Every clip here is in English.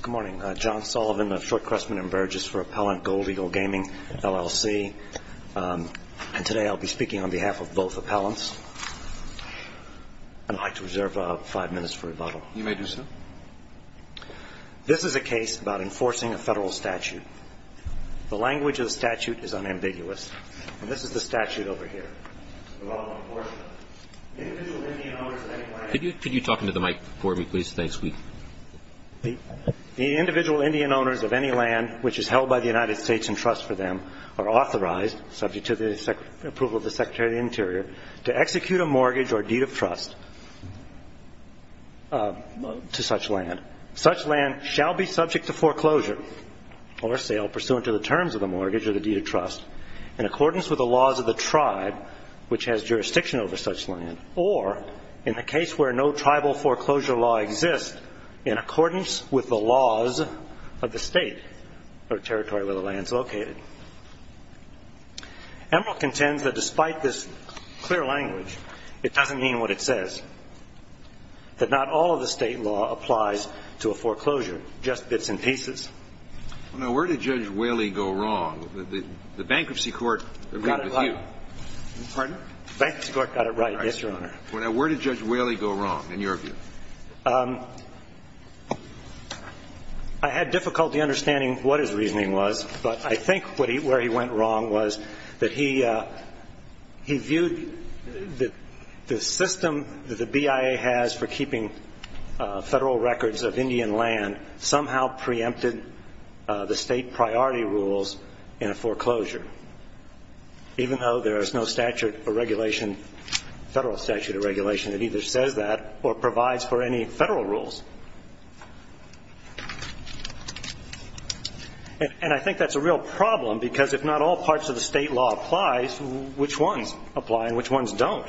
Good morning. John Sullivan of Shortcrestman and Burgess for Appellant Gold Eagle Gaming, LLC. And today I'll be speaking on behalf of both appellants. I'd like to reserve five minutes for rebuttal. You may do so. This is a case about enforcing a federal statute. The language of the statute is unambiguous. And this is the statute over here. Could you talk into the mic for me, please? Thanks. The individual Indian owners of any land which is held by the United States in trust for them are authorized, subject to the approval of the Secretary of the Interior, to execute a mortgage or deed of trust to such land. Such land shall be subject to foreclosure or sale pursuant to the terms of the mortgage or the deed of trust in accordance with the laws of the tribe which has jurisdiction over such land, or in the case where no tribal foreclosure law exists, in accordance with the laws of the state or territory where the land is located. Emerald contends that despite this clear language, it doesn't mean what it says, that not all of the state law applies to a foreclosure, just bits and pieces. Now, where did Judge Whaley go wrong? The bankruptcy court agreed with you. Got it right. Pardon? Bankruptcy court got it right, yes, Your Honor. Well, now, where did Judge Whaley go wrong in your view? I had difficulty understanding what his reasoning was, but I think where he went wrong was that he viewed the system that the BIA has for keeping federal records of Indian land somehow preempted the state priority rules in a foreclosure, even though there is no statute or regulation, federal statute or regulation, that either says that or provides for any federal rules. And I think that's a real problem because if not all parts of the state law applies, which ones apply and which ones don't,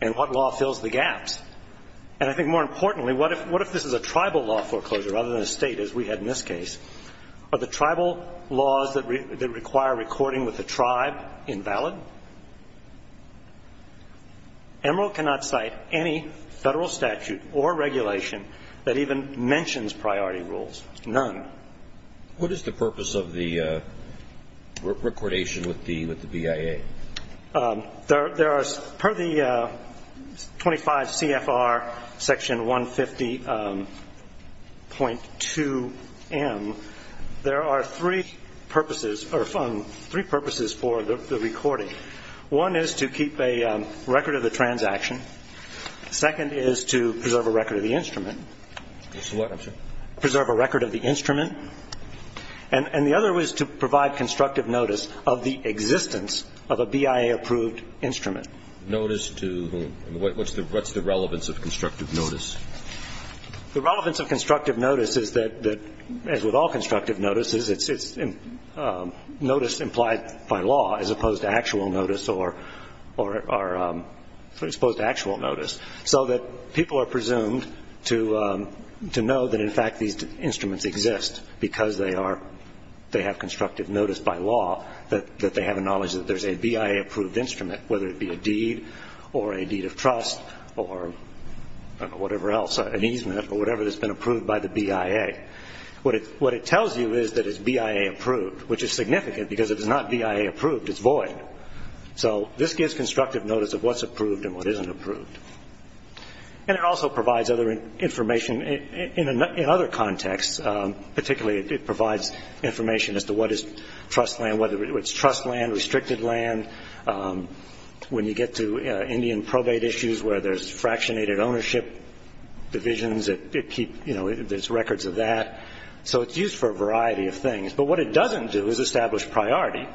and what law fills the gaps? And I think more importantly, what if this is a tribal law foreclosure rather than a state, as we had in this case? Are the tribal laws that require recording with the tribe invalid? Emerald cannot cite any federal statute or regulation that even mentions priority rules, none. What is the purpose of the recordation with the BIA? There are, per the 25 CFR Section 150.2M, there are three purposes for the recording. One is to keep a record of the transaction. Second is to preserve a record of the instrument. Preserve a record of the instrument. And the other is to provide constructive notice of the existence of a BIA-approved instrument. Notice to whom? What's the relevance of constructive notice? The relevance of constructive notice is that, as with all constructive notices, it's notice implied by law as opposed to actual notice, so that people are presumed to know that, in fact, these instruments exist because they have constructive notice by law, that they have a knowledge that there's a BIA-approved instrument, whether it be a deed or a deed of trust or whatever else, an easement, or whatever that's been approved by the BIA. What it tells you is that it's BIA-approved, which is significant because it's not BIA-approved, it's void. So this gives constructive notice of what's approved and what isn't approved. And it also provides other information in other contexts. Particularly, it provides information as to what is trust land, whether it's trust land, restricted land. When you get to Indian probate issues where there's fractionated ownership divisions, there's records of that. So it's used for a variety of things. But what it doesn't do is establish priority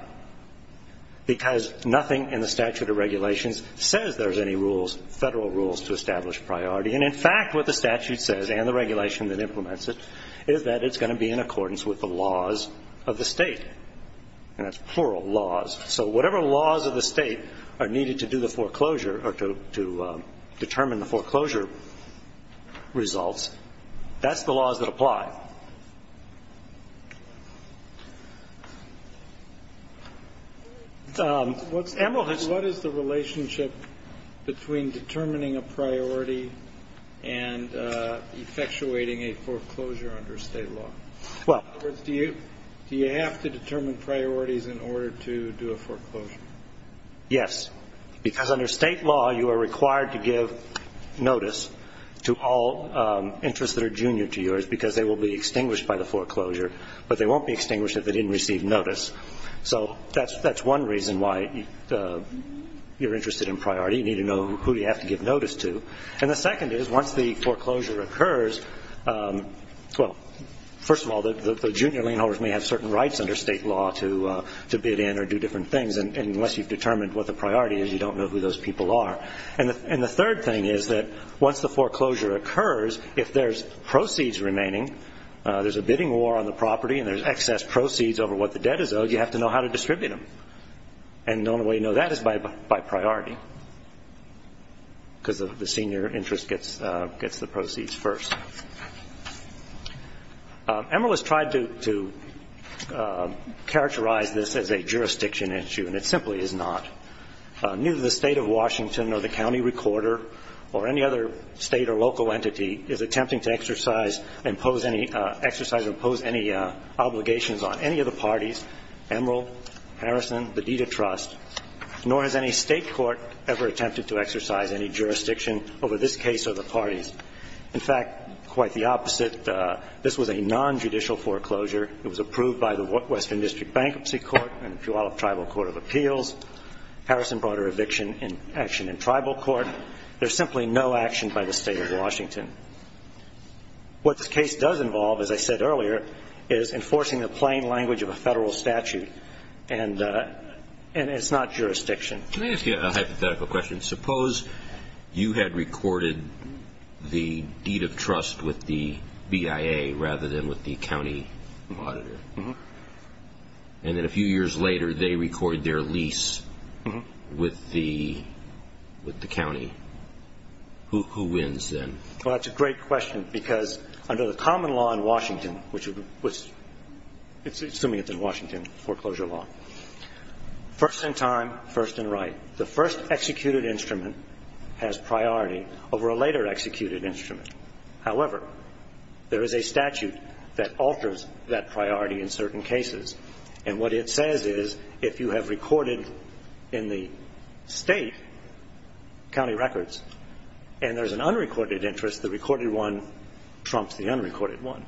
because nothing in the statute of regulations says there's any rules, federal rules, to establish priority. And, in fact, what the statute says, and the regulation that implements it, is that it's going to be in accordance with the laws of the state, and that's plural, laws. So whatever laws of the state are needed to do the foreclosure or to determine the foreclosure results, that's the laws that apply. MR. What is the relationship between determining a priority and effectuating a foreclosure under state law? In other words, do you have to determine priorities in order to do a foreclosure? Yes. Because under state law, you are required to give notice to all interests that are junior to yours because they will be extinguished by the foreclosure, but they won't be extinguished if they didn't receive notice. So that's one reason why you're interested in priority. You need to know who you have to give notice to. And the second is, once the foreclosure occurs, well, first of all, the junior lien holders may have certain rights under state law to bid in or do different things, and unless you've determined what the priority is, you don't know who those people are. And the third thing is that once the foreclosure occurs, if there's proceeds remaining, there's a bidding war on the property and there's excess proceeds over what the debt is owed, you have to know how to distribute them. And the only way you know that is by priority because the senior interest gets the proceeds first. Emmerle has tried to characterize this as a jurisdiction issue, and it simply is not. Neither the State of Washington or the county recorder or any other state or local entity is attempting to exercise or impose any obligations on any of the parties, Emmerle, Harrison, the Deed of Trust, nor has any state court ever attempted to exercise any jurisdiction over this case or the parties. In fact, quite the opposite. This was a nonjudicial foreclosure. It was approved by the Western District Bankruptcy Court and the Puyallup Tribal Court of Appeals. Harrison brought an eviction action in tribal court. There's simply no action by the State of Washington. What this case does involve, as I said earlier, is enforcing the plain language of a federal statute, and it's not jurisdiction. Can I ask you a hypothetical question? Suppose you had recorded the Deed of Trust with the BIA rather than with the county auditor, and then a few years later they record their lease with the county. Who wins then? Well, that's a great question because under the common law in Washington, assuming it's in Washington foreclosure law, first in time, first in right, the first executed instrument has priority over a later executed instrument. However, there is a statute that alters that priority in certain cases, and what it says is if you have recorded in the state county records and there's an unrecorded interest, the recorded one trumps the unrecorded one.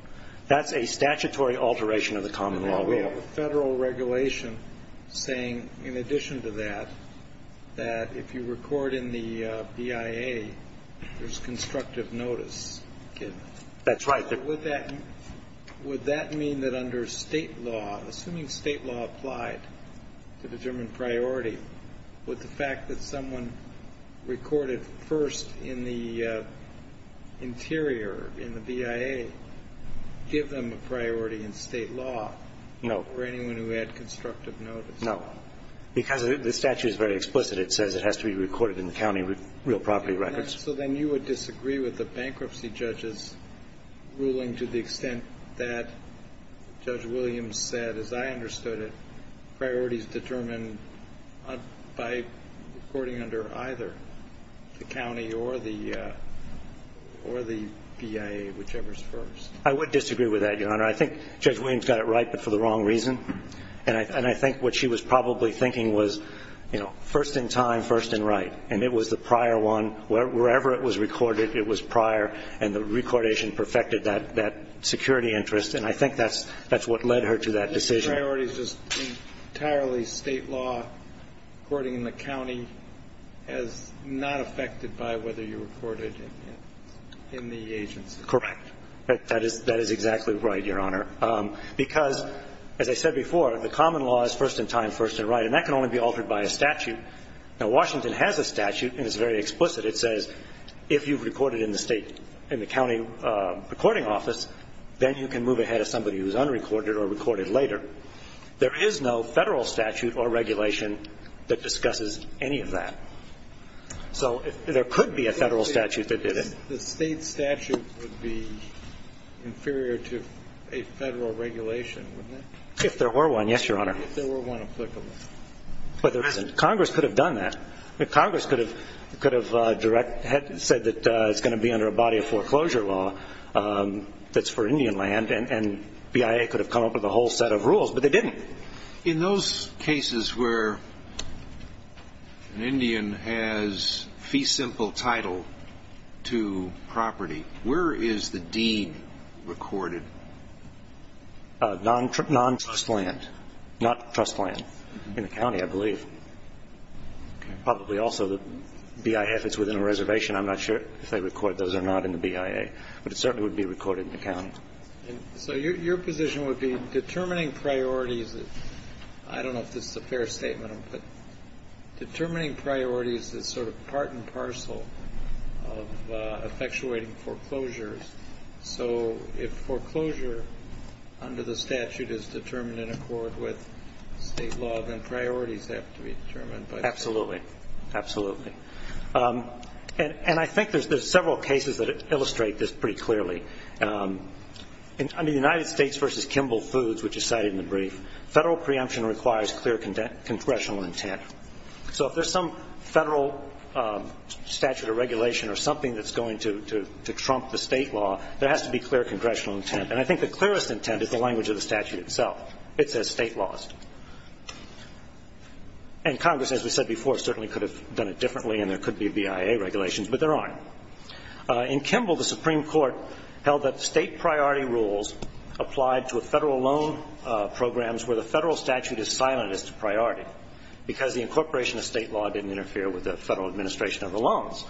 That's a statutory alteration of the common law. We have a federal regulation saying, in addition to that, that if you record in the BIA there's constructive notice given. That's right. Would that mean that under state law, assuming state law applied to determine priority, would the fact that someone recorded first in the interior, in the BIA, give them a priority in state law for anyone who had constructive notice? No. Because the statute is very explicit. It says it has to be recorded in the county real property records. So then you would disagree with the bankruptcy judge's ruling to the extent that, Judge Williams said, as I understood it, by recording under either the county or the BIA, whichever is first. I would disagree with that, Your Honor. I think Judge Williams got it right, but for the wrong reason. And I think what she was probably thinking was, you know, first in time, first in right. And it was the prior one. Wherever it was recorded, it was prior. And the recordation perfected that security interest, and I think that's what led her to that decision. So the priority is just entirely state law, recording in the county, as not affected by whether you recorded in the agency? Correct. That is exactly right, Your Honor. Because, as I said before, the common law is first in time, first in right, and that can only be altered by a statute. Now, Washington has a statute, and it's very explicit. It says if you've recorded in the county recording office, then you can move ahead as somebody who's unrecorded or recorded later. There is no Federal statute or regulation that discusses any of that. So there could be a Federal statute that did it. The state statute would be inferior to a Federal regulation, wouldn't it? If there were one, yes, Your Honor. If there were one applicable. But there isn't. Congress could have done that. Congress could have said that it's going to be under a body of foreclosure law that's for Indian land, and BIA could have come up with a whole set of rules, but they didn't. In those cases where an Indian has fee simple title to property, where is the deed recorded? Non-trust land. Not trust land. In the county, I believe. Probably also the BIF that's within a reservation. I'm not sure if they recorded those or not in the BIA. But it certainly would be recorded in the county. So your position would be determining priorities, I don't know if this is a fair statement, but determining priorities is sort of part and parcel of effectuating foreclosures. So if foreclosure under the statute is determined in accord with state law, then priorities have to be determined. Absolutely. Absolutely. And I think there's several cases that illustrate this pretty clearly. Under the United States v. Kimball Foods, which is cited in the brief, federal preemption requires clear congressional intent. So if there's some federal statute of regulation or something that's going to trump the state law, there has to be clear congressional intent. And I think the clearest intent is the language of the statute itself. It says state laws. And Congress, as we said before, certainly could have done it differently and there could be BIA regulations, but there aren't. In Kimball, the Supreme Court held that state priority rules applied to federal loan programs where the federal statute is silent as to priority because the incorporation of state law didn't interfere with the federal administration of the loans.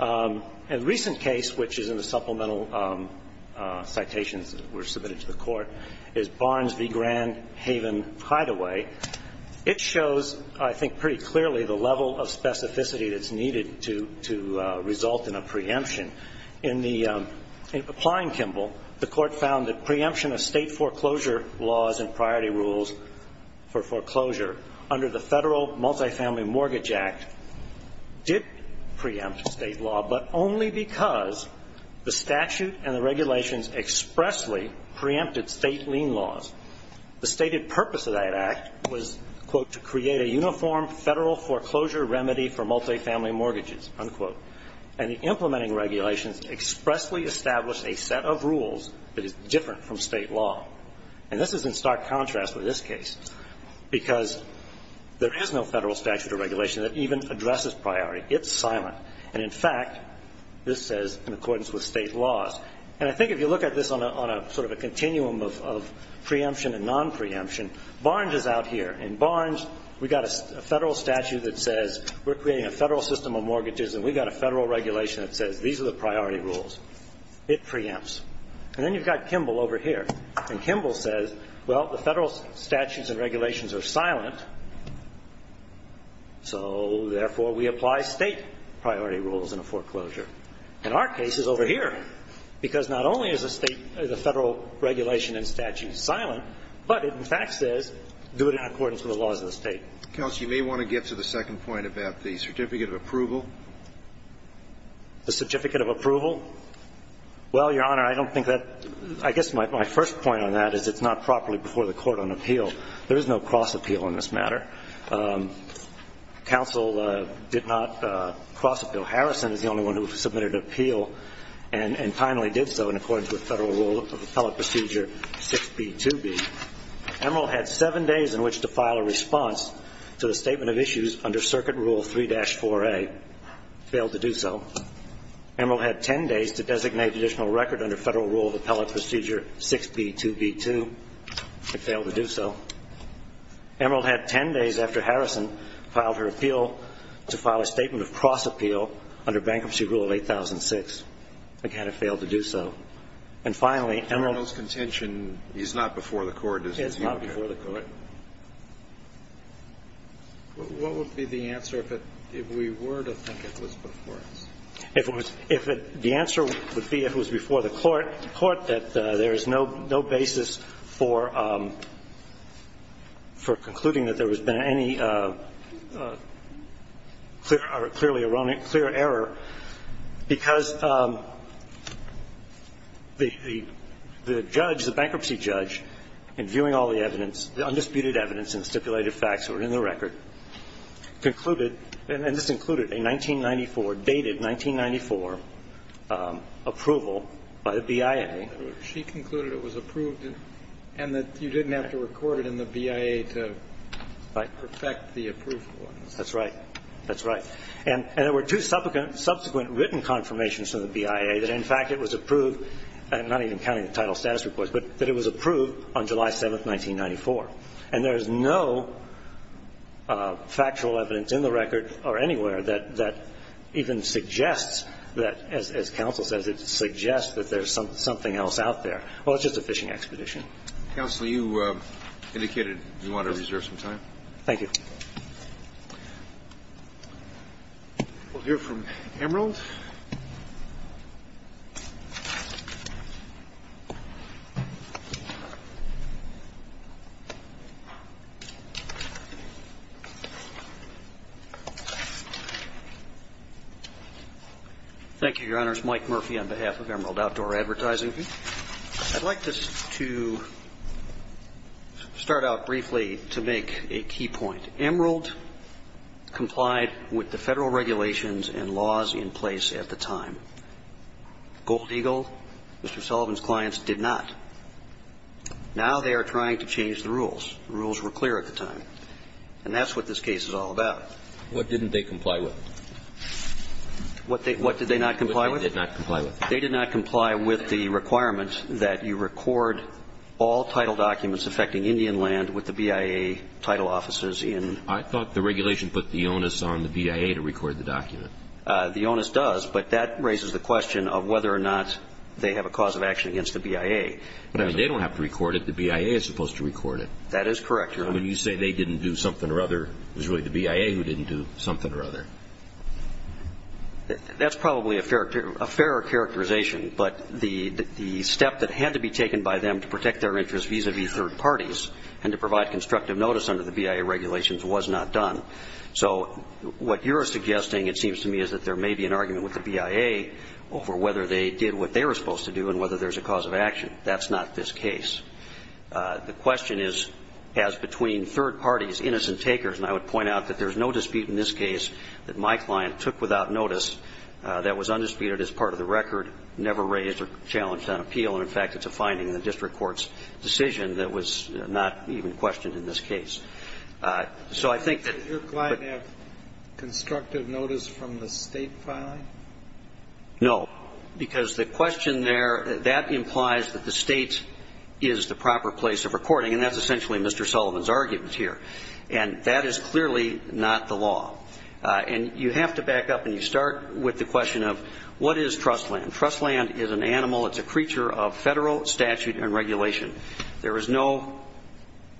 A recent case, which is in the supplemental citations that were submitted to the Court, is Barnes v. Grand Haven Hideaway. It shows, I think pretty clearly, the level of specificity that's needed to result in a preemption. In applying Kimball, the Court found that preemption of state foreclosure laws and priority rules for foreclosure under the Federal Multifamily Mortgage Act did preempt state law, but only because the statute and the regulations expressly preempted state lien laws. The stated purpose of that act was, quote, to create a uniform federal foreclosure remedy for multifamily mortgages, unquote. And the implementing regulations expressly established a set of rules that is different from state law. And this is in stark contrast with this case because there is no federal statute or regulation that even addresses priority. It's silent. And, in fact, this says in accordance with state laws. And I think if you look at this on a sort of a continuum of preemption and non-preemption, Barnes is out here. In Barnes, we've got a federal statute that says we're creating a federal system of mortgages and we've got a federal regulation that says these are the priority rules. It preempts. And then you've got Kimball over here. And Kimball says, well, the federal statutes and regulations are silent, so, therefore, we apply state priority rules in a foreclosure. And our case is over here, because not only is a state or the federal regulation and statute silent, but it, in fact, says do it in accordance with the laws of the State. Kennedy. Counsel, you may want to get to the second point about the certificate of approval. The certificate of approval? Well, Your Honor, I don't think that – I guess my first point on that is it's not There is no cross-appeal on this matter. Counsel did not cross-appeal. Harrison is the only one who submitted an appeal and finally did so in accordance with Federal Rule of Appellate Procedure 6B2B. Emerald had seven days in which to file a response to the statement of issues under Circuit Rule 3-4A. Failed to do so. Emerald had ten days to designate additional record under Federal Rule of Appellate Procedure 6B2B2. It failed to do so. Emerald had ten days after Harrison filed her appeal to file a statement of cross-appeal under Bankruptcy Rule of 8006. Again, it failed to do so. And finally, Emerald – Emerald's contention is not before the Court, is it? It's not before the Court. What would be the answer if it – if we were to think it was before us? If it was – if it – the answer would be if it was before the Court. I would point out to the Court that there is no basis for concluding that there has been any clearly erroneous – clear error, because the judge, the bankruptcy judge, in viewing all the evidence, the undisputed evidence and stipulated facts that were in the record, concluded – and this included a 1994, dated 1994 approval by the BIA. She concluded it was approved and that you didn't have to record it in the BIA to perfect the approval. That's right. That's right. And there were two subsequent written confirmations from the BIA that, in fact, it was approved – I'm not even counting the title status reports – but that it was approved on July 7th, 1994. And there is no factual evidence in the record or anywhere that even suggests that – as counsel says, it suggests that there's something else out there. Well, it's just a fishing expedition. Counsel, you indicated you wanted to reserve some time. Thank you. We'll hear from Emerald. Thank you, Your Honors. Mike Murphy on behalf of Emerald Outdoor Advertising. I'd like to start out briefly to make a key point. Emerald complied with the Federal regulations and laws in place at the time. Gold Eagle, Mr. Sullivan's clients, did not. Now they are trying to change the rules. The rules were clear at the time. And that's what this case is all about. What didn't they comply with? What did they not comply with? What did they not comply with? They did not comply with the requirement that you record all title documents affecting Indian land with the BIA title offices in. I thought the regulation put the onus on the BIA to record the document. The onus does. But that raises the question of whether or not they have a cause of action against the BIA. But, I mean, they don't have to record it. The BIA is supposed to record it. That is correct, Your Honor. Now, when you say they didn't do something or other, it was really the BIA who didn't do something or other. That's probably a fairer characterization. But the step that had to be taken by them to protect their interests vis-à-vis third parties and to provide constructive notice under the BIA regulations was not done. So what you're suggesting, it seems to me, is that there may be an argument with the BIA over whether they did what they were supposed to do and whether there's a cause of action. That's not this case. The question is, has between third parties, innocent takers, and I would point out that there's no dispute in this case that my client took without notice that was undisputed as part of the record, never raised or challenged on appeal. And, in fact, it's a finding in the district court's decision that was not even questioned in this case. So I think that the But does your client have constructive notice from the State filing? No. Because the question there, that implies that the State is the proper place of recording, and that's essentially Mr. Sullivan's argument here. And that is clearly not the law. And you have to back up, and you start with the question of what is trust land? Trust land is an animal. It's a creature of Federal statute and regulation. There is no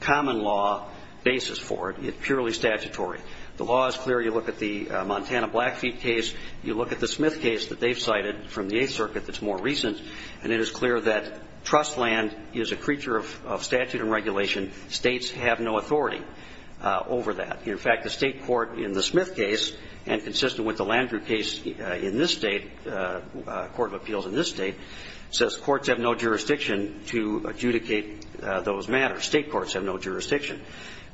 common law basis for it. It's purely statutory. The law is clear. You look at the Montana Blackfeet case. You look at the Smith case that they've cited from the Eighth Circuit that's more recent, and it is clear that trust land is a creature of statute and regulation. States have no authority over that. In fact, the State court in the Smith case, and consistent with the Landrieu case in this State, court of appeals in this State, says courts have no jurisdiction to adjudicate those matters. State courts have no jurisdiction.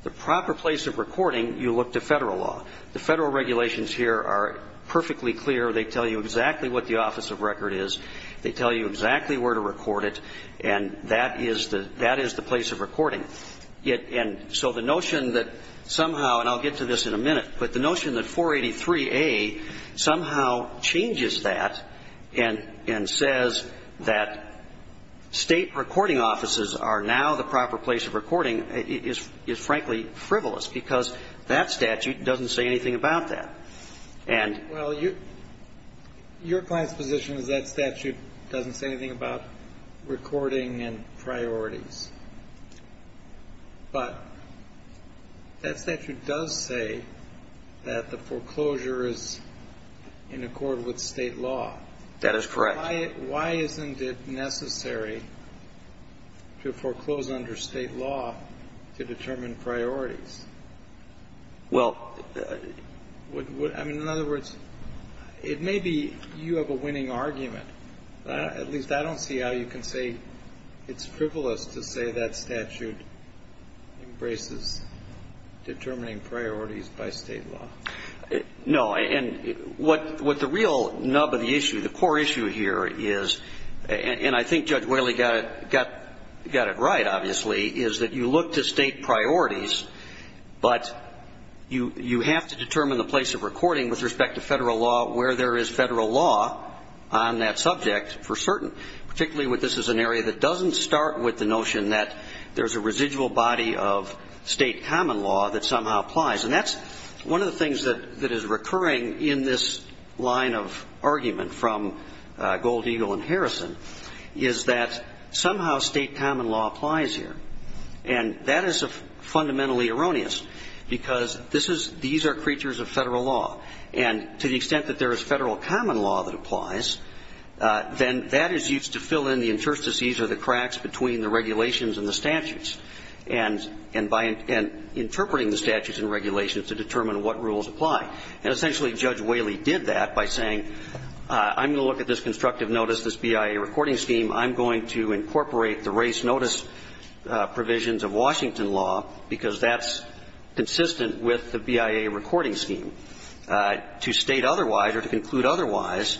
The proper place of recording, you look to Federal law. The Federal regulations here are perfectly clear. They tell you exactly what the office of record is. They tell you exactly where to record it, and that is the place of recording. And so the notion that somehow, and I'll get to this in a minute, but the notion that 483A somehow changes that and says that State recording offices are now the proper place of recording is frankly frivolous because that statute doesn't say anything about that. And ---- Well, your client's position is that statute doesn't say anything about recording and priorities. But that statute does say that the foreclosure is in accord with State law. That is correct. Why isn't it necessary to foreclose under State law to determine priorities? Well ---- I mean, in other words, it may be you have a winning argument. At least I don't see how you can say it's frivolous to say that statute embraces determining priorities by State law. No. And what the real nub of the issue, the core issue here is, and I think Judge Whaley got it right, obviously, is that you look to State priorities, but you have to determine the place of recording with respect to Federal law where there is Federal law on that subject for certain, particularly when this is an area that doesn't start with the notion that there's a residual body of State common law that somehow applies. And that's one of the things that is recurring in this line of argument from Gold, Eagle and Harrison, is that somehow State common law applies here. And that is fundamentally erroneous, because this is these are creatures of Federal law. And to the extent that there is Federal common law that applies, then that is used to fill in the interstices or the cracks between the regulations and the statutes. And by interpreting the statutes and regulations to determine what rules apply. And essentially, Judge Whaley did that by saying, I'm going to look at this constructive notice, this BIA recording scheme. I'm going to incorporate the race notice provisions of Washington law, because that's consistent with the BIA recording scheme. To State otherwise or to conclude otherwise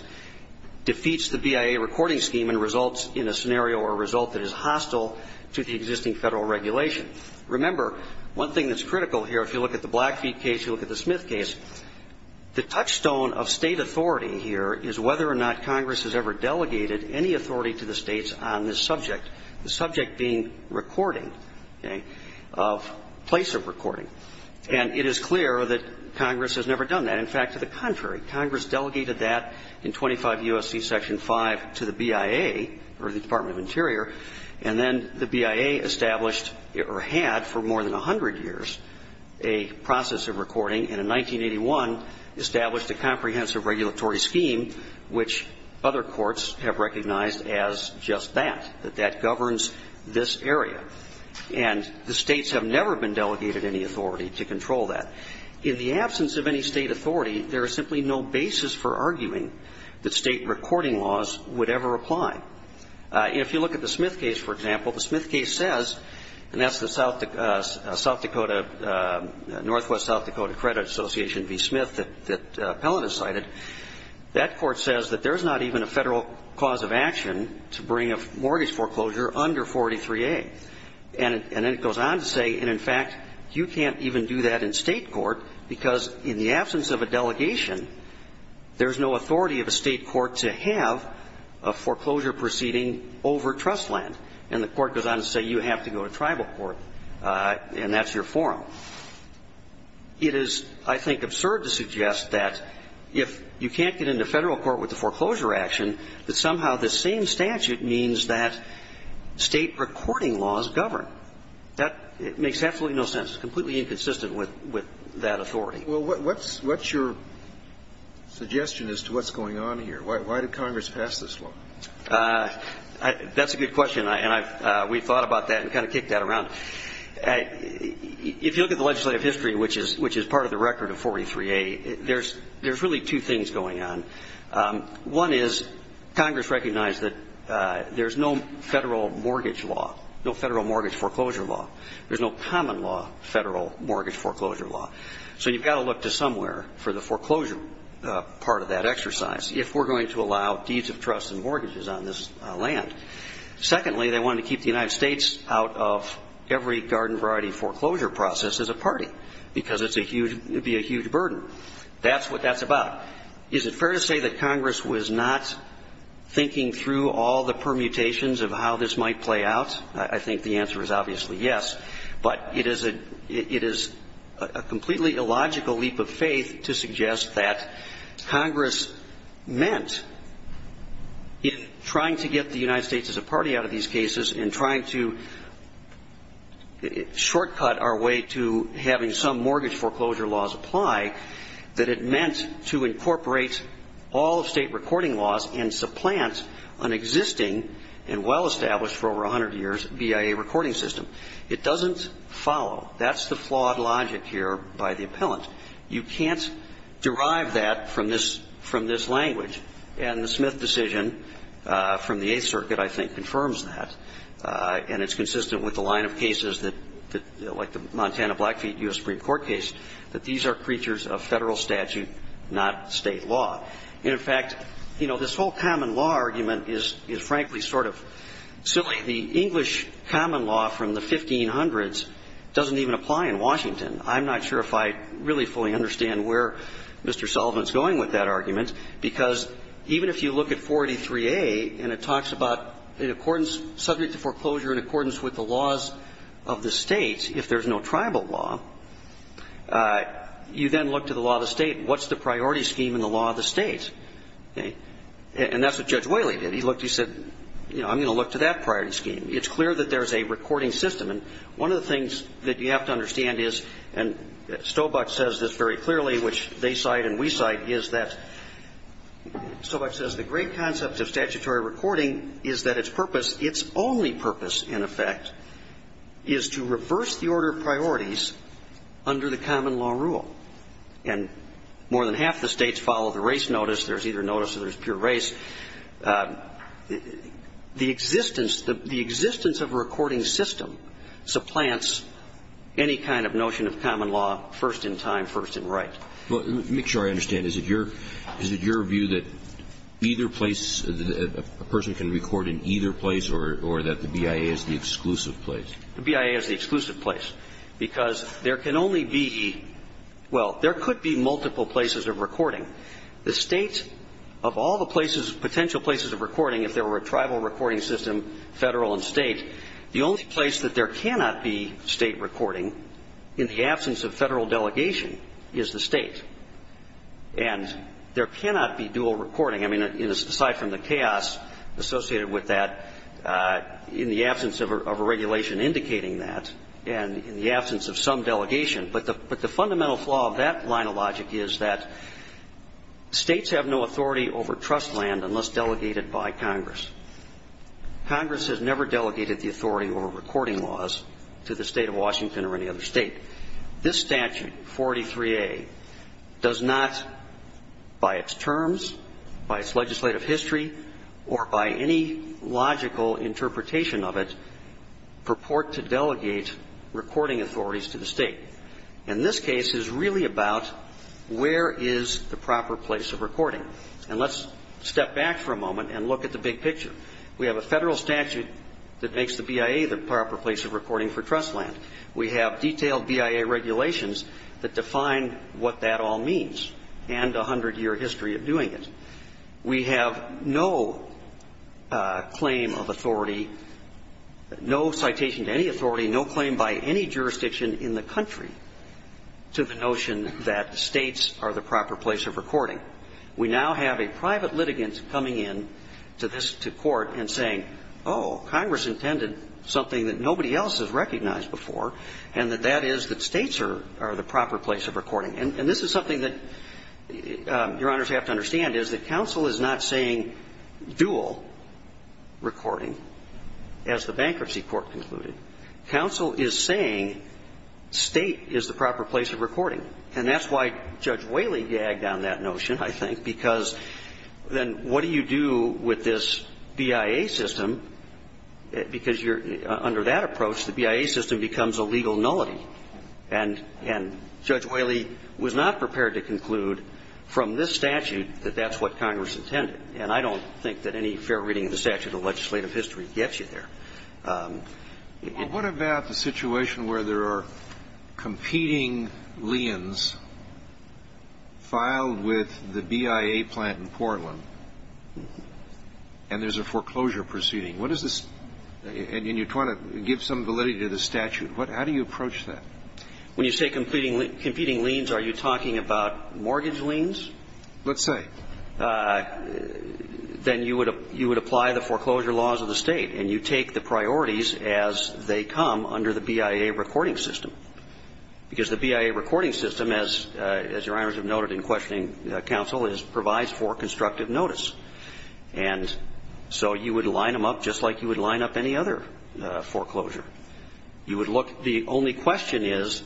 defeats the BIA recording scheme and results in a scenario or result that is hostile to the existing Federal regulation. Remember, one thing that's critical here, if you look at the Blackfeet case, you look at the Smith case, the touchstone of State authority here is whether or not Congress has ever delegated any authority to the States on this subject, the subject being recording, okay, of place of recording. And it is clear that Congress has never done that. In fact, to the contrary, Congress delegated that in 25 U.S.C. Section 5 to the BIA or the Department of Interior. And then the BIA established or had for more than 100 years a process of recording and in 1981 established a comprehensive regulatory scheme which other courts have recognized as just that, that that governs this area. And the States have never been delegated any authority to control that. In the absence of any State authority, there is simply no basis for arguing that State recording laws would ever apply. If you look at the Smith case, for example, the Smith case says, and that's the South Dakota, Northwest South Dakota Credit Association v. Smith that Pellitt has cited, that court says that there's not even a Federal cause of action to bring a mortgage foreclosure under 43A. And then it goes on to say, and in fact, you can't even do that in State court because in the absence of a delegation, there's no authority of a State court to have a foreclosure proceeding over trust land. And the court goes on to say you have to go to tribal court, and that's your forum. It is, I think, absurd to suggest that if you can't get into Federal court with a foreclosure action, that somehow the same statute means that State recording laws govern. That makes absolutely no sense. It's completely inconsistent with that authority. Well, what's your suggestion as to what's going on here? Why did Congress pass this law? That's a good question, and we've thought about that and kind of kicked that around. If you look at the legislative history, which is part of the record of 43A, there's really two things going on. One is Congress recognized that there's no Federal mortgage law, no Federal mortgage foreclosure law. There's no common law Federal mortgage foreclosure law. So you've got to look to somewhere for the foreclosure part of that exercise if we're going to allow deeds of trust and mortgages on this land. Secondly, they wanted to keep the United States out of every garden variety foreclosure process as a party because it would be a huge burden. That's what that's about. Is it fair to say that Congress was not thinking through all the permutations of how this might play out? I think the answer is obviously yes. But it is a completely illogical leap of faith to suggest that Congress meant in trying to get the United States as a party out of these cases and trying to shortcut our way to having some mortgage foreclosure laws apply, that it meant to incorporate all of State recording laws and supplant an existing and well-established for over 100 years BIA recording system. It doesn't follow. That's the flawed logic here by the appellant. You can't derive that from this language. And the Smith decision from the Eighth Circuit, I think, confirms that. And it's consistent with the line of cases that, like the Montana Blackfeet U.S. Supreme Court case, that these are creatures of Federal statute, not State law. And, in fact, you know, this whole common law argument is frankly sort of silly. The English common law from the 1500s doesn't even apply in Washington. I'm not sure if I really fully understand where Mr. Sullivan is going with that argument, because even if you look at 483A and it talks about in accordance, subject to foreclosure in accordance with the laws of the State, if there's no tribal law, you then look to the law of the State. What's the priority scheme in the law of the State? And that's what Judge Whaley did. He looked and he said, you know, I'm going to look to that priority scheme. It's clear that there's a recording system. And one of the things that you have to understand is, and Stobach says this very clearly, which they cite and we cite, is that Stobach says the great concept of statutory recording is that its purpose, its only purpose, in effect, is to reverse the order of priorities under the common law rule. And more than half the States follow the race notice. There's either notice or there's pure race. The existence of a recording system supplants any kind of notion of common law first in time, first in right. Well, to make sure I understand, is it your view that either place, a person can record in either place or that the BIA is the exclusive place? The BIA is the exclusive place because there can only be, well, there could be multiple places of recording. The States, of all the places, potential places of recording, if there were a tribal recording system, Federal and State, the only place that there cannot be State recording, in the absence of Federal delegation, is the State. And there cannot be dual recording. I mean, aside from the chaos associated with that, in the absence of a regulation indicating that, and in the absence of some delegation. But the fundamental flaw of that line of logic is that States have no authority over trust land unless delegated by Congress. Congress has never delegated the authority over recording laws to the State of Washington or any other State. This statute, 43A, does not, by its terms, by its legislative history, or by any logical interpretation of it, purport to delegate recording authorities to the State. And this case is really about where is the proper place of recording. And let's step back for a moment and look at the big picture. We have a Federal statute that makes the BIA the proper place of recording for trust land. We have detailed BIA regulations that define what that all means and a hundred-year history of doing it. We have no claim of authority, no citation to any authority, no claim by any jurisdiction in the country to the notion that States are the proper place of recording. We now have a private litigant coming in to this to court and saying, oh, Congress intended something that nobody else has recognized before, and that that is that States are the proper place of recording. And this is something that, Your Honors, you have to understand, is that counsel is not saying dual recording, as the bankruptcy court concluded. Counsel is saying State is the proper place of recording. And that's why Judge Whaley gagged on that notion, I think, because then what do you do with this BIA system, because under that approach the BIA system becomes a legal nullity. And Judge Whaley was not prepared to conclude from this statute that that's what Congress intended. And I don't think that any fair reading of the statute of legislative history gets you there. Well, what about the situation where there are competing liens filed with the BIA plant in Portland, and there's a foreclosure proceeding? What is this? And you're trying to give some validity to the statute. How do you approach that? When you say competing liens, are you talking about mortgage liens? Let's say. Then you would apply the foreclosure laws of the State, and you take the priorities as they come under the BIA recording system, because the BIA recording system, as Your Honors have noted in questioning counsel, provides for constructive notice. And so you would line them up just like you would line up any other foreclosure. You would look. The only question is,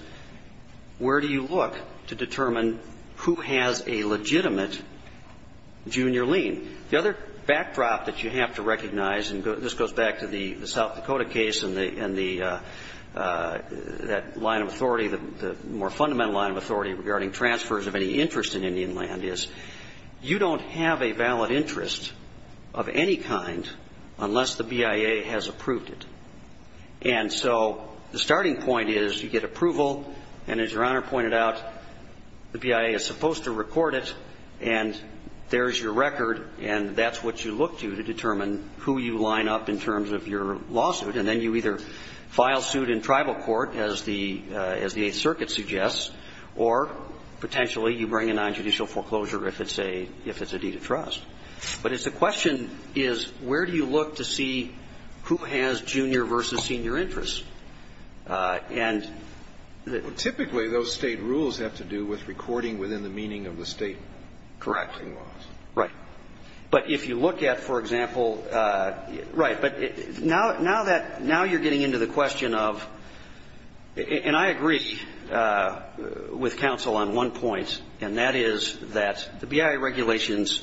where do you look to determine who has a legitimate junior lien? The other backdrop that you have to recognize, and this goes back to the South Dakota case and that line of authority, the more fundamental line of authority regarding transfers of any interest in Indian land, is you don't have a valid interest of any kind unless the BIA has approved it. And so the starting point is you get approval, and as Your Honor pointed out, the BIA is supposed to record it, and there's your record, and that's what you look to to determine who you line up in terms of your lawsuit. And then you either file suit in tribal court, as the Eighth Circuit suggests, or potentially you bring a nonjudicial foreclosure if it's a deed of trust. But the question is, where do you look to see who has junior versus senior interest? And the ---- Well, typically those State rules have to do with recording within the meaning of the State correcting laws. Right. But if you look at, for example ---- right. But now that you're getting into the question of ---- and I agree with counsel on one point, and that is that the BIA regulations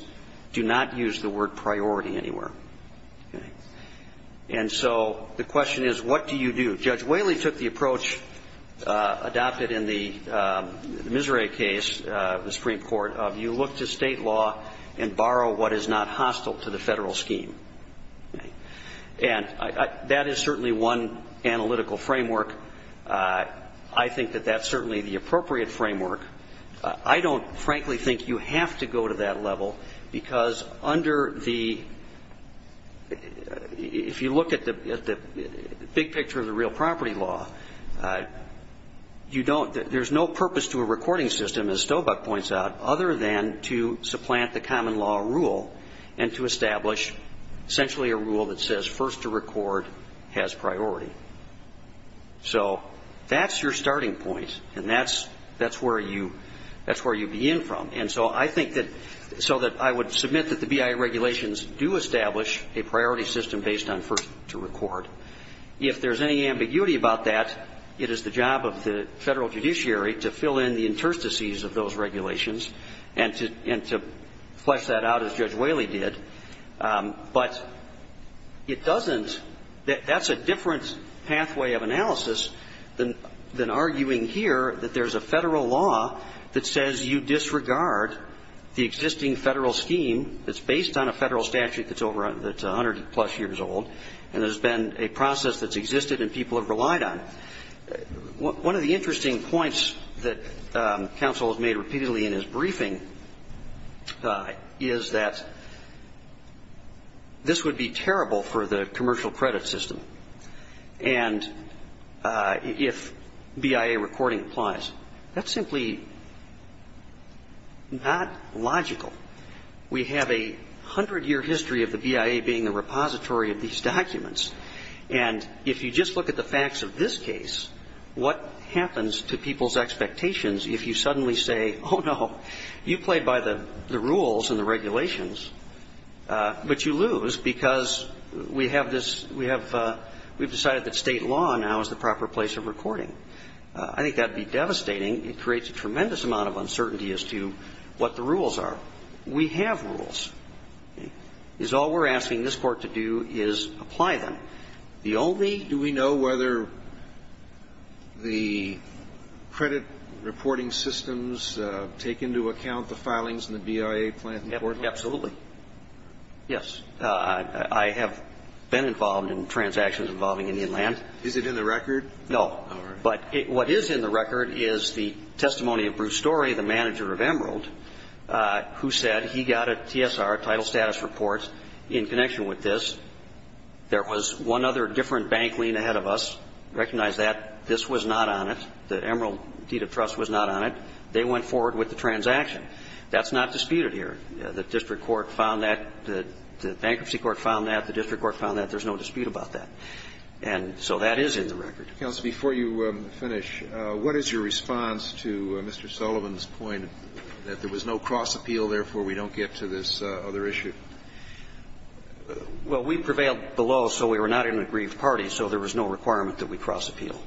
do not use the word priority anywhere. And so the question is, what do you do? Judge Whaley took the approach adopted in the Miserea case, the Supreme Court, of you look to State law and borrow what is not hostile to the Federal scheme. And that is certainly one analytical framework. I think that that's certainly the appropriate framework. I don't, frankly, think you have to go to that level because under the ---- if you look at the big picture of the real property law, you don't ---- there's no purpose to a recording system, as Stobuck points out, other than to supplant the common law rule and to establish essentially a rule that says first to record has priority. So that's your starting point, and that's where you begin from. And so I think that ---- so that I would submit that the BIA regulations do establish a priority system based on first to record. If there's any ambiguity about that, it is the job of the Federal judiciary to fill in the interstices of those regulations and to flesh that out, as Judge Whaley did. But it doesn't ---- that's a different pathway of analysis than arguing here that there's a Federal law that says you disregard the existing Federal scheme that's based on a Federal statute that's over ---- that's 100-plus years old, and there's been a process that's existed and people have relied on it. One of the interesting points that counsel has made repeatedly in his briefing is that this would be terrible for the commercial credit system. And if BIA recording applies, that's simply not logical. We have a 100-year history of the BIA being the repository of these documents. And if you just look at the facts of this case, what happens to people's expectations if you suddenly say, oh, no, you played by the rules and the regulations, but you lose because we have this ---- we have decided that State law now is the proper place of recording. I think that would be devastating. It creates a tremendous amount of uncertainty as to what the rules are. We have rules. All we're asking this Court to do is apply them. The only ---- Do we know whether the credit reporting systems take into account the filings in the BIA plan? Absolutely. Yes. I have been involved in transactions involving Indian land. Is it in the record? No. All right. But what is in the record is the testimony of Bruce Story, the manager of Emerald, who said he got a TSR, title status report, in connection with this. There was one other different bank lien ahead of us. Recognize that. This was not on it. The Emerald deed of trust was not on it. They went forward with the transaction. That's not disputed here. The district court found that, the bankruptcy court found that, the district court found that. There's no dispute about that. And so that is in the record. Counsel, before you finish, what is your response to Mr. Sullivan's point that there was no cross-appeal, therefore we don't get to this other issue? Well, we prevailed below, so we were not in an aggrieved party. So there was no requirement that we cross-appeal.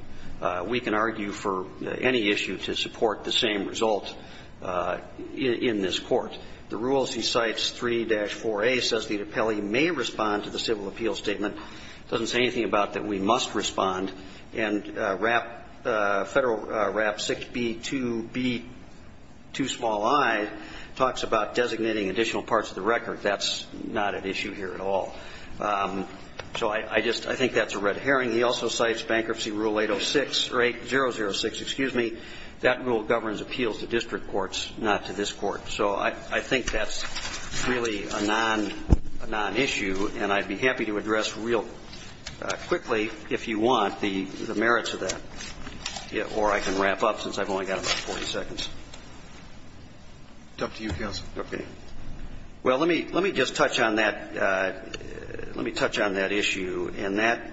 We can argue for any issue to support the same result in this court. The rules he cites, 3-4A, says the appellee may respond to the civil appeal statement. It doesn't say anything about that we must respond. And Federal RAP 6B2B2i talks about designating additional parts of the record. That's not an issue here at all. So I just think that's a red herring. He also cites Bankruptcy Rule 806, or 8006, excuse me. That rule governs appeals to district courts, not to this court. So I think that's really a non-issue, and I'd be happy to address real quickly, if you want, the merits of that. Or I can wrap up since I've only got about 40 seconds. It's up to you, Counsel. Okay. Well, let me just touch on that. Let me touch on that issue. And that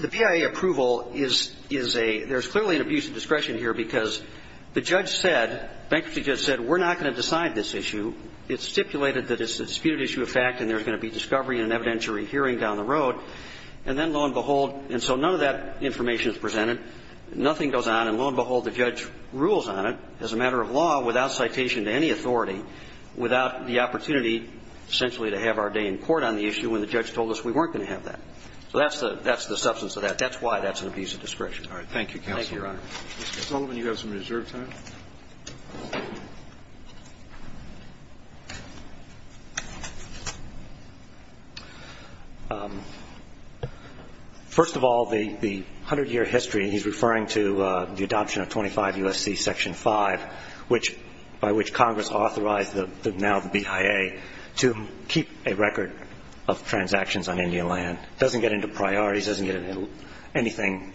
the PIA approval is a ‑‑ there's clearly an abuse of discretion here because the judge said, Bankruptcy Judge said, we're not going to decide this issue. It stipulated that it's a disputed issue of fact and there's going to be discovery in an evidentiary hearing down the road. And then, lo and behold, and so none of that information is presented. Nothing goes on. And, lo and behold, the judge rules on it as a matter of law without citation to any authority, without the opportunity, essentially, to have our day in court on the issue when the judge told us we weren't going to have that. So that's the substance of that. That's why that's an abuse of discretion. All right. Thank you, Counsel. Thank you, Your Honor. Mr. Sullivan, you have some reserved time. First of all, the 100‑year history, he's referring to the adoption of 25 U.S.C. Section 5, by which Congress authorized now the PIA to keep a record of transactions on Indian land. It doesn't get into priorities. It doesn't get into anything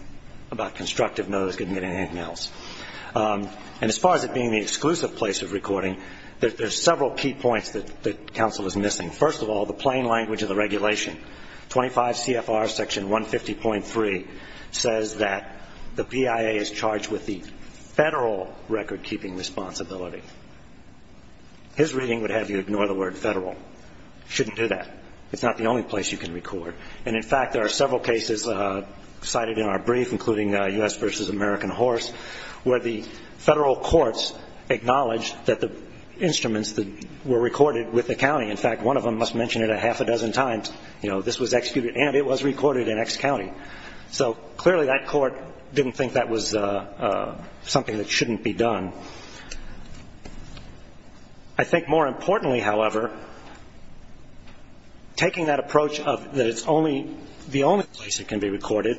about constructive no's. It doesn't get into anything else. And as far as it being the exclusive place of recording, there's several key points that counsel is missing. First of all, the plain language of the regulation. 25 CFR Section 150.3 says that the PIA is charged with the federal recordkeeping responsibility. His reading would have you ignore the word federal. You shouldn't do that. It's not the only place you can record. And, in fact, there are several cases cited in our brief, including U.S. v. American Horse, where the federal courts acknowledged that the instruments were recorded with the county. In fact, one of them must mention it a half a dozen times. You know, this was executed and it was recorded in X county. So clearly that court didn't think that was something that shouldn't be done. I think more importantly, however, taking that approach that it's the only place it can be recorded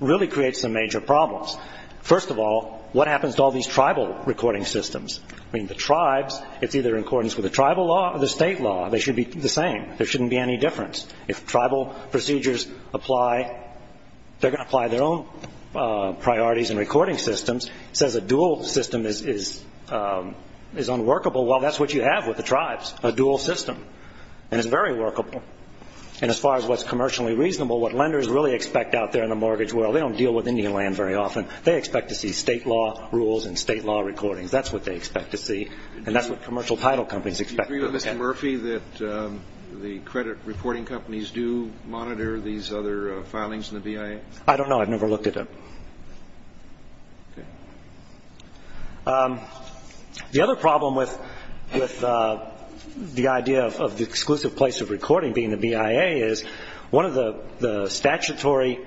really creates some major problems. First of all, what happens to all these tribal recording systems? I mean, the tribes, it's either in accordance with the tribal law or the state law. They should be the same. There shouldn't be any difference. If tribal procedures apply, they're going to apply their own priorities and recording systems. It says a dual system is unworkable. Well, that's what you have with the tribes, a dual system, and it's very workable. And as far as what's commercially reasonable, what lenders really expect out there in the mortgage world, they don't deal with Indian land very often. They expect to see state law rules and state law recordings. That's what they expect to see, and that's what commercial title companies expect. Do you agree with Mr. Murphy that the credit reporting companies do monitor these other filings in the BIA? I don't know. I've never looked at it. The other problem with the idea of the exclusive place of recording being the BIA is one of the statutory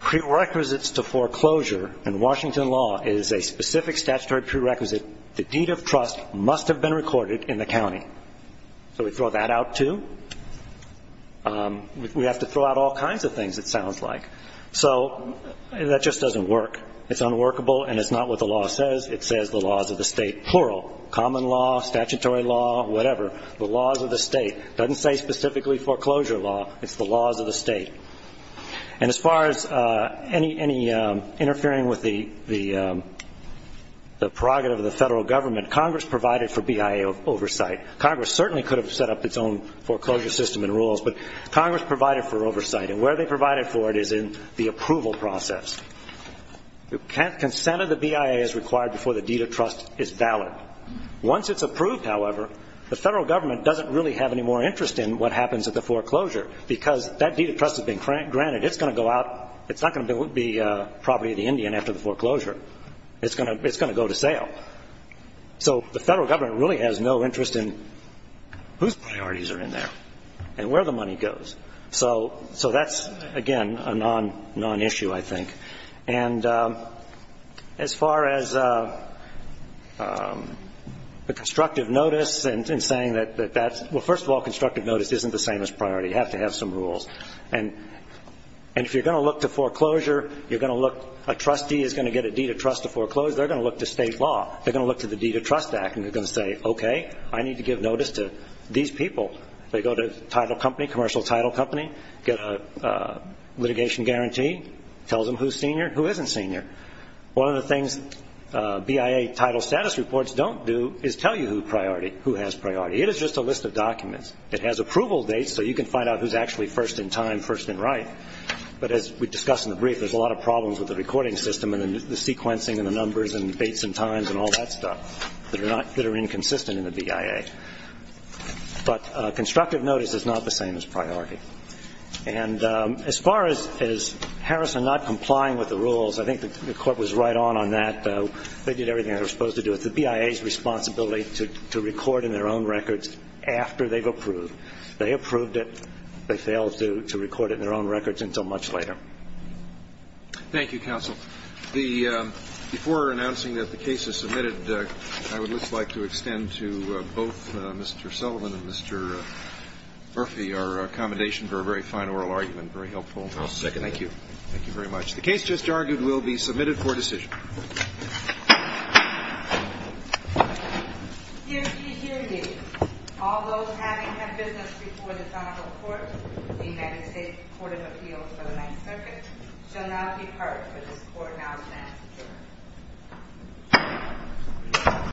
prerequisites to foreclosure in Washington law is a specific statutory prerequisite. The deed of trust must have been recorded in the county. So we throw that out too? We have to throw out all kinds of things, it sounds like. So that just doesn't work. It's unworkable, and it's not what the law says. It says the laws of the state, plural, common law, statutory law, whatever. The laws of the state. It doesn't say specifically foreclosure law. It's the laws of the state. And as far as any interfering with the prerogative of the federal government, Congress provided for BIA oversight. Congress certainly could have set up its own foreclosure system and rules, but Congress provided for oversight, and where they provided for it is in the approval process. Consent of the BIA is required before the deed of trust is valid. Once it's approved, however, the federal government doesn't really have any more interest in what happens at the foreclosure because that deed of trust has been granted. It's going to go out. It's not going to be property of the Indian after the foreclosure. It's going to go to sale. So the federal government really has no interest in whose priorities are in there and where the money goes. So that's, again, a non-issue, I think. And as far as the constructive notice and saying that that's – well, first of all, constructive notice isn't the same as priority. You have to have some rules. And if you're going to look to foreclosure, you're going to look – a trustee is going to get a deed of trust to foreclose. They're going to look to state law. They're going to look to the Deed of Trust Act, and they're going to say, okay, I need to give notice to these people. They go to the title company, commercial title company, get a litigation guarantee, tells them who's senior, who isn't senior. One of the things BIA title status reports don't do is tell you who has priority. It is just a list of documents. It has approval dates so you can find out who's actually first in time, first in right. But as we discussed in the brief, there's a lot of problems with the recording system and the sequencing and the numbers and dates and times and all that stuff that are inconsistent in the BIA. But constructive notice is not the same as priority. And as far as Harrison not complying with the rules, I think the Court was right on that. They did everything they were supposed to do. It's the BIA's responsibility to record in their own records after they've approved. They approved it. They failed to record it in their own records until much later. Thank you, Counsel. Before announcing that the case is submitted, I would just like to extend to both Mr. Sullivan and Mr. Murphy our accommodation for a very fine oral argument. Very helpful. I'll second it. Thank you. Thank you very much. The case just argued will be submitted for decision. Hear, see, hear me. All those having had business before this honorable court, the United States Court of Appeals for the Ninth Circuit, shall now depart for this court now stands adjourned.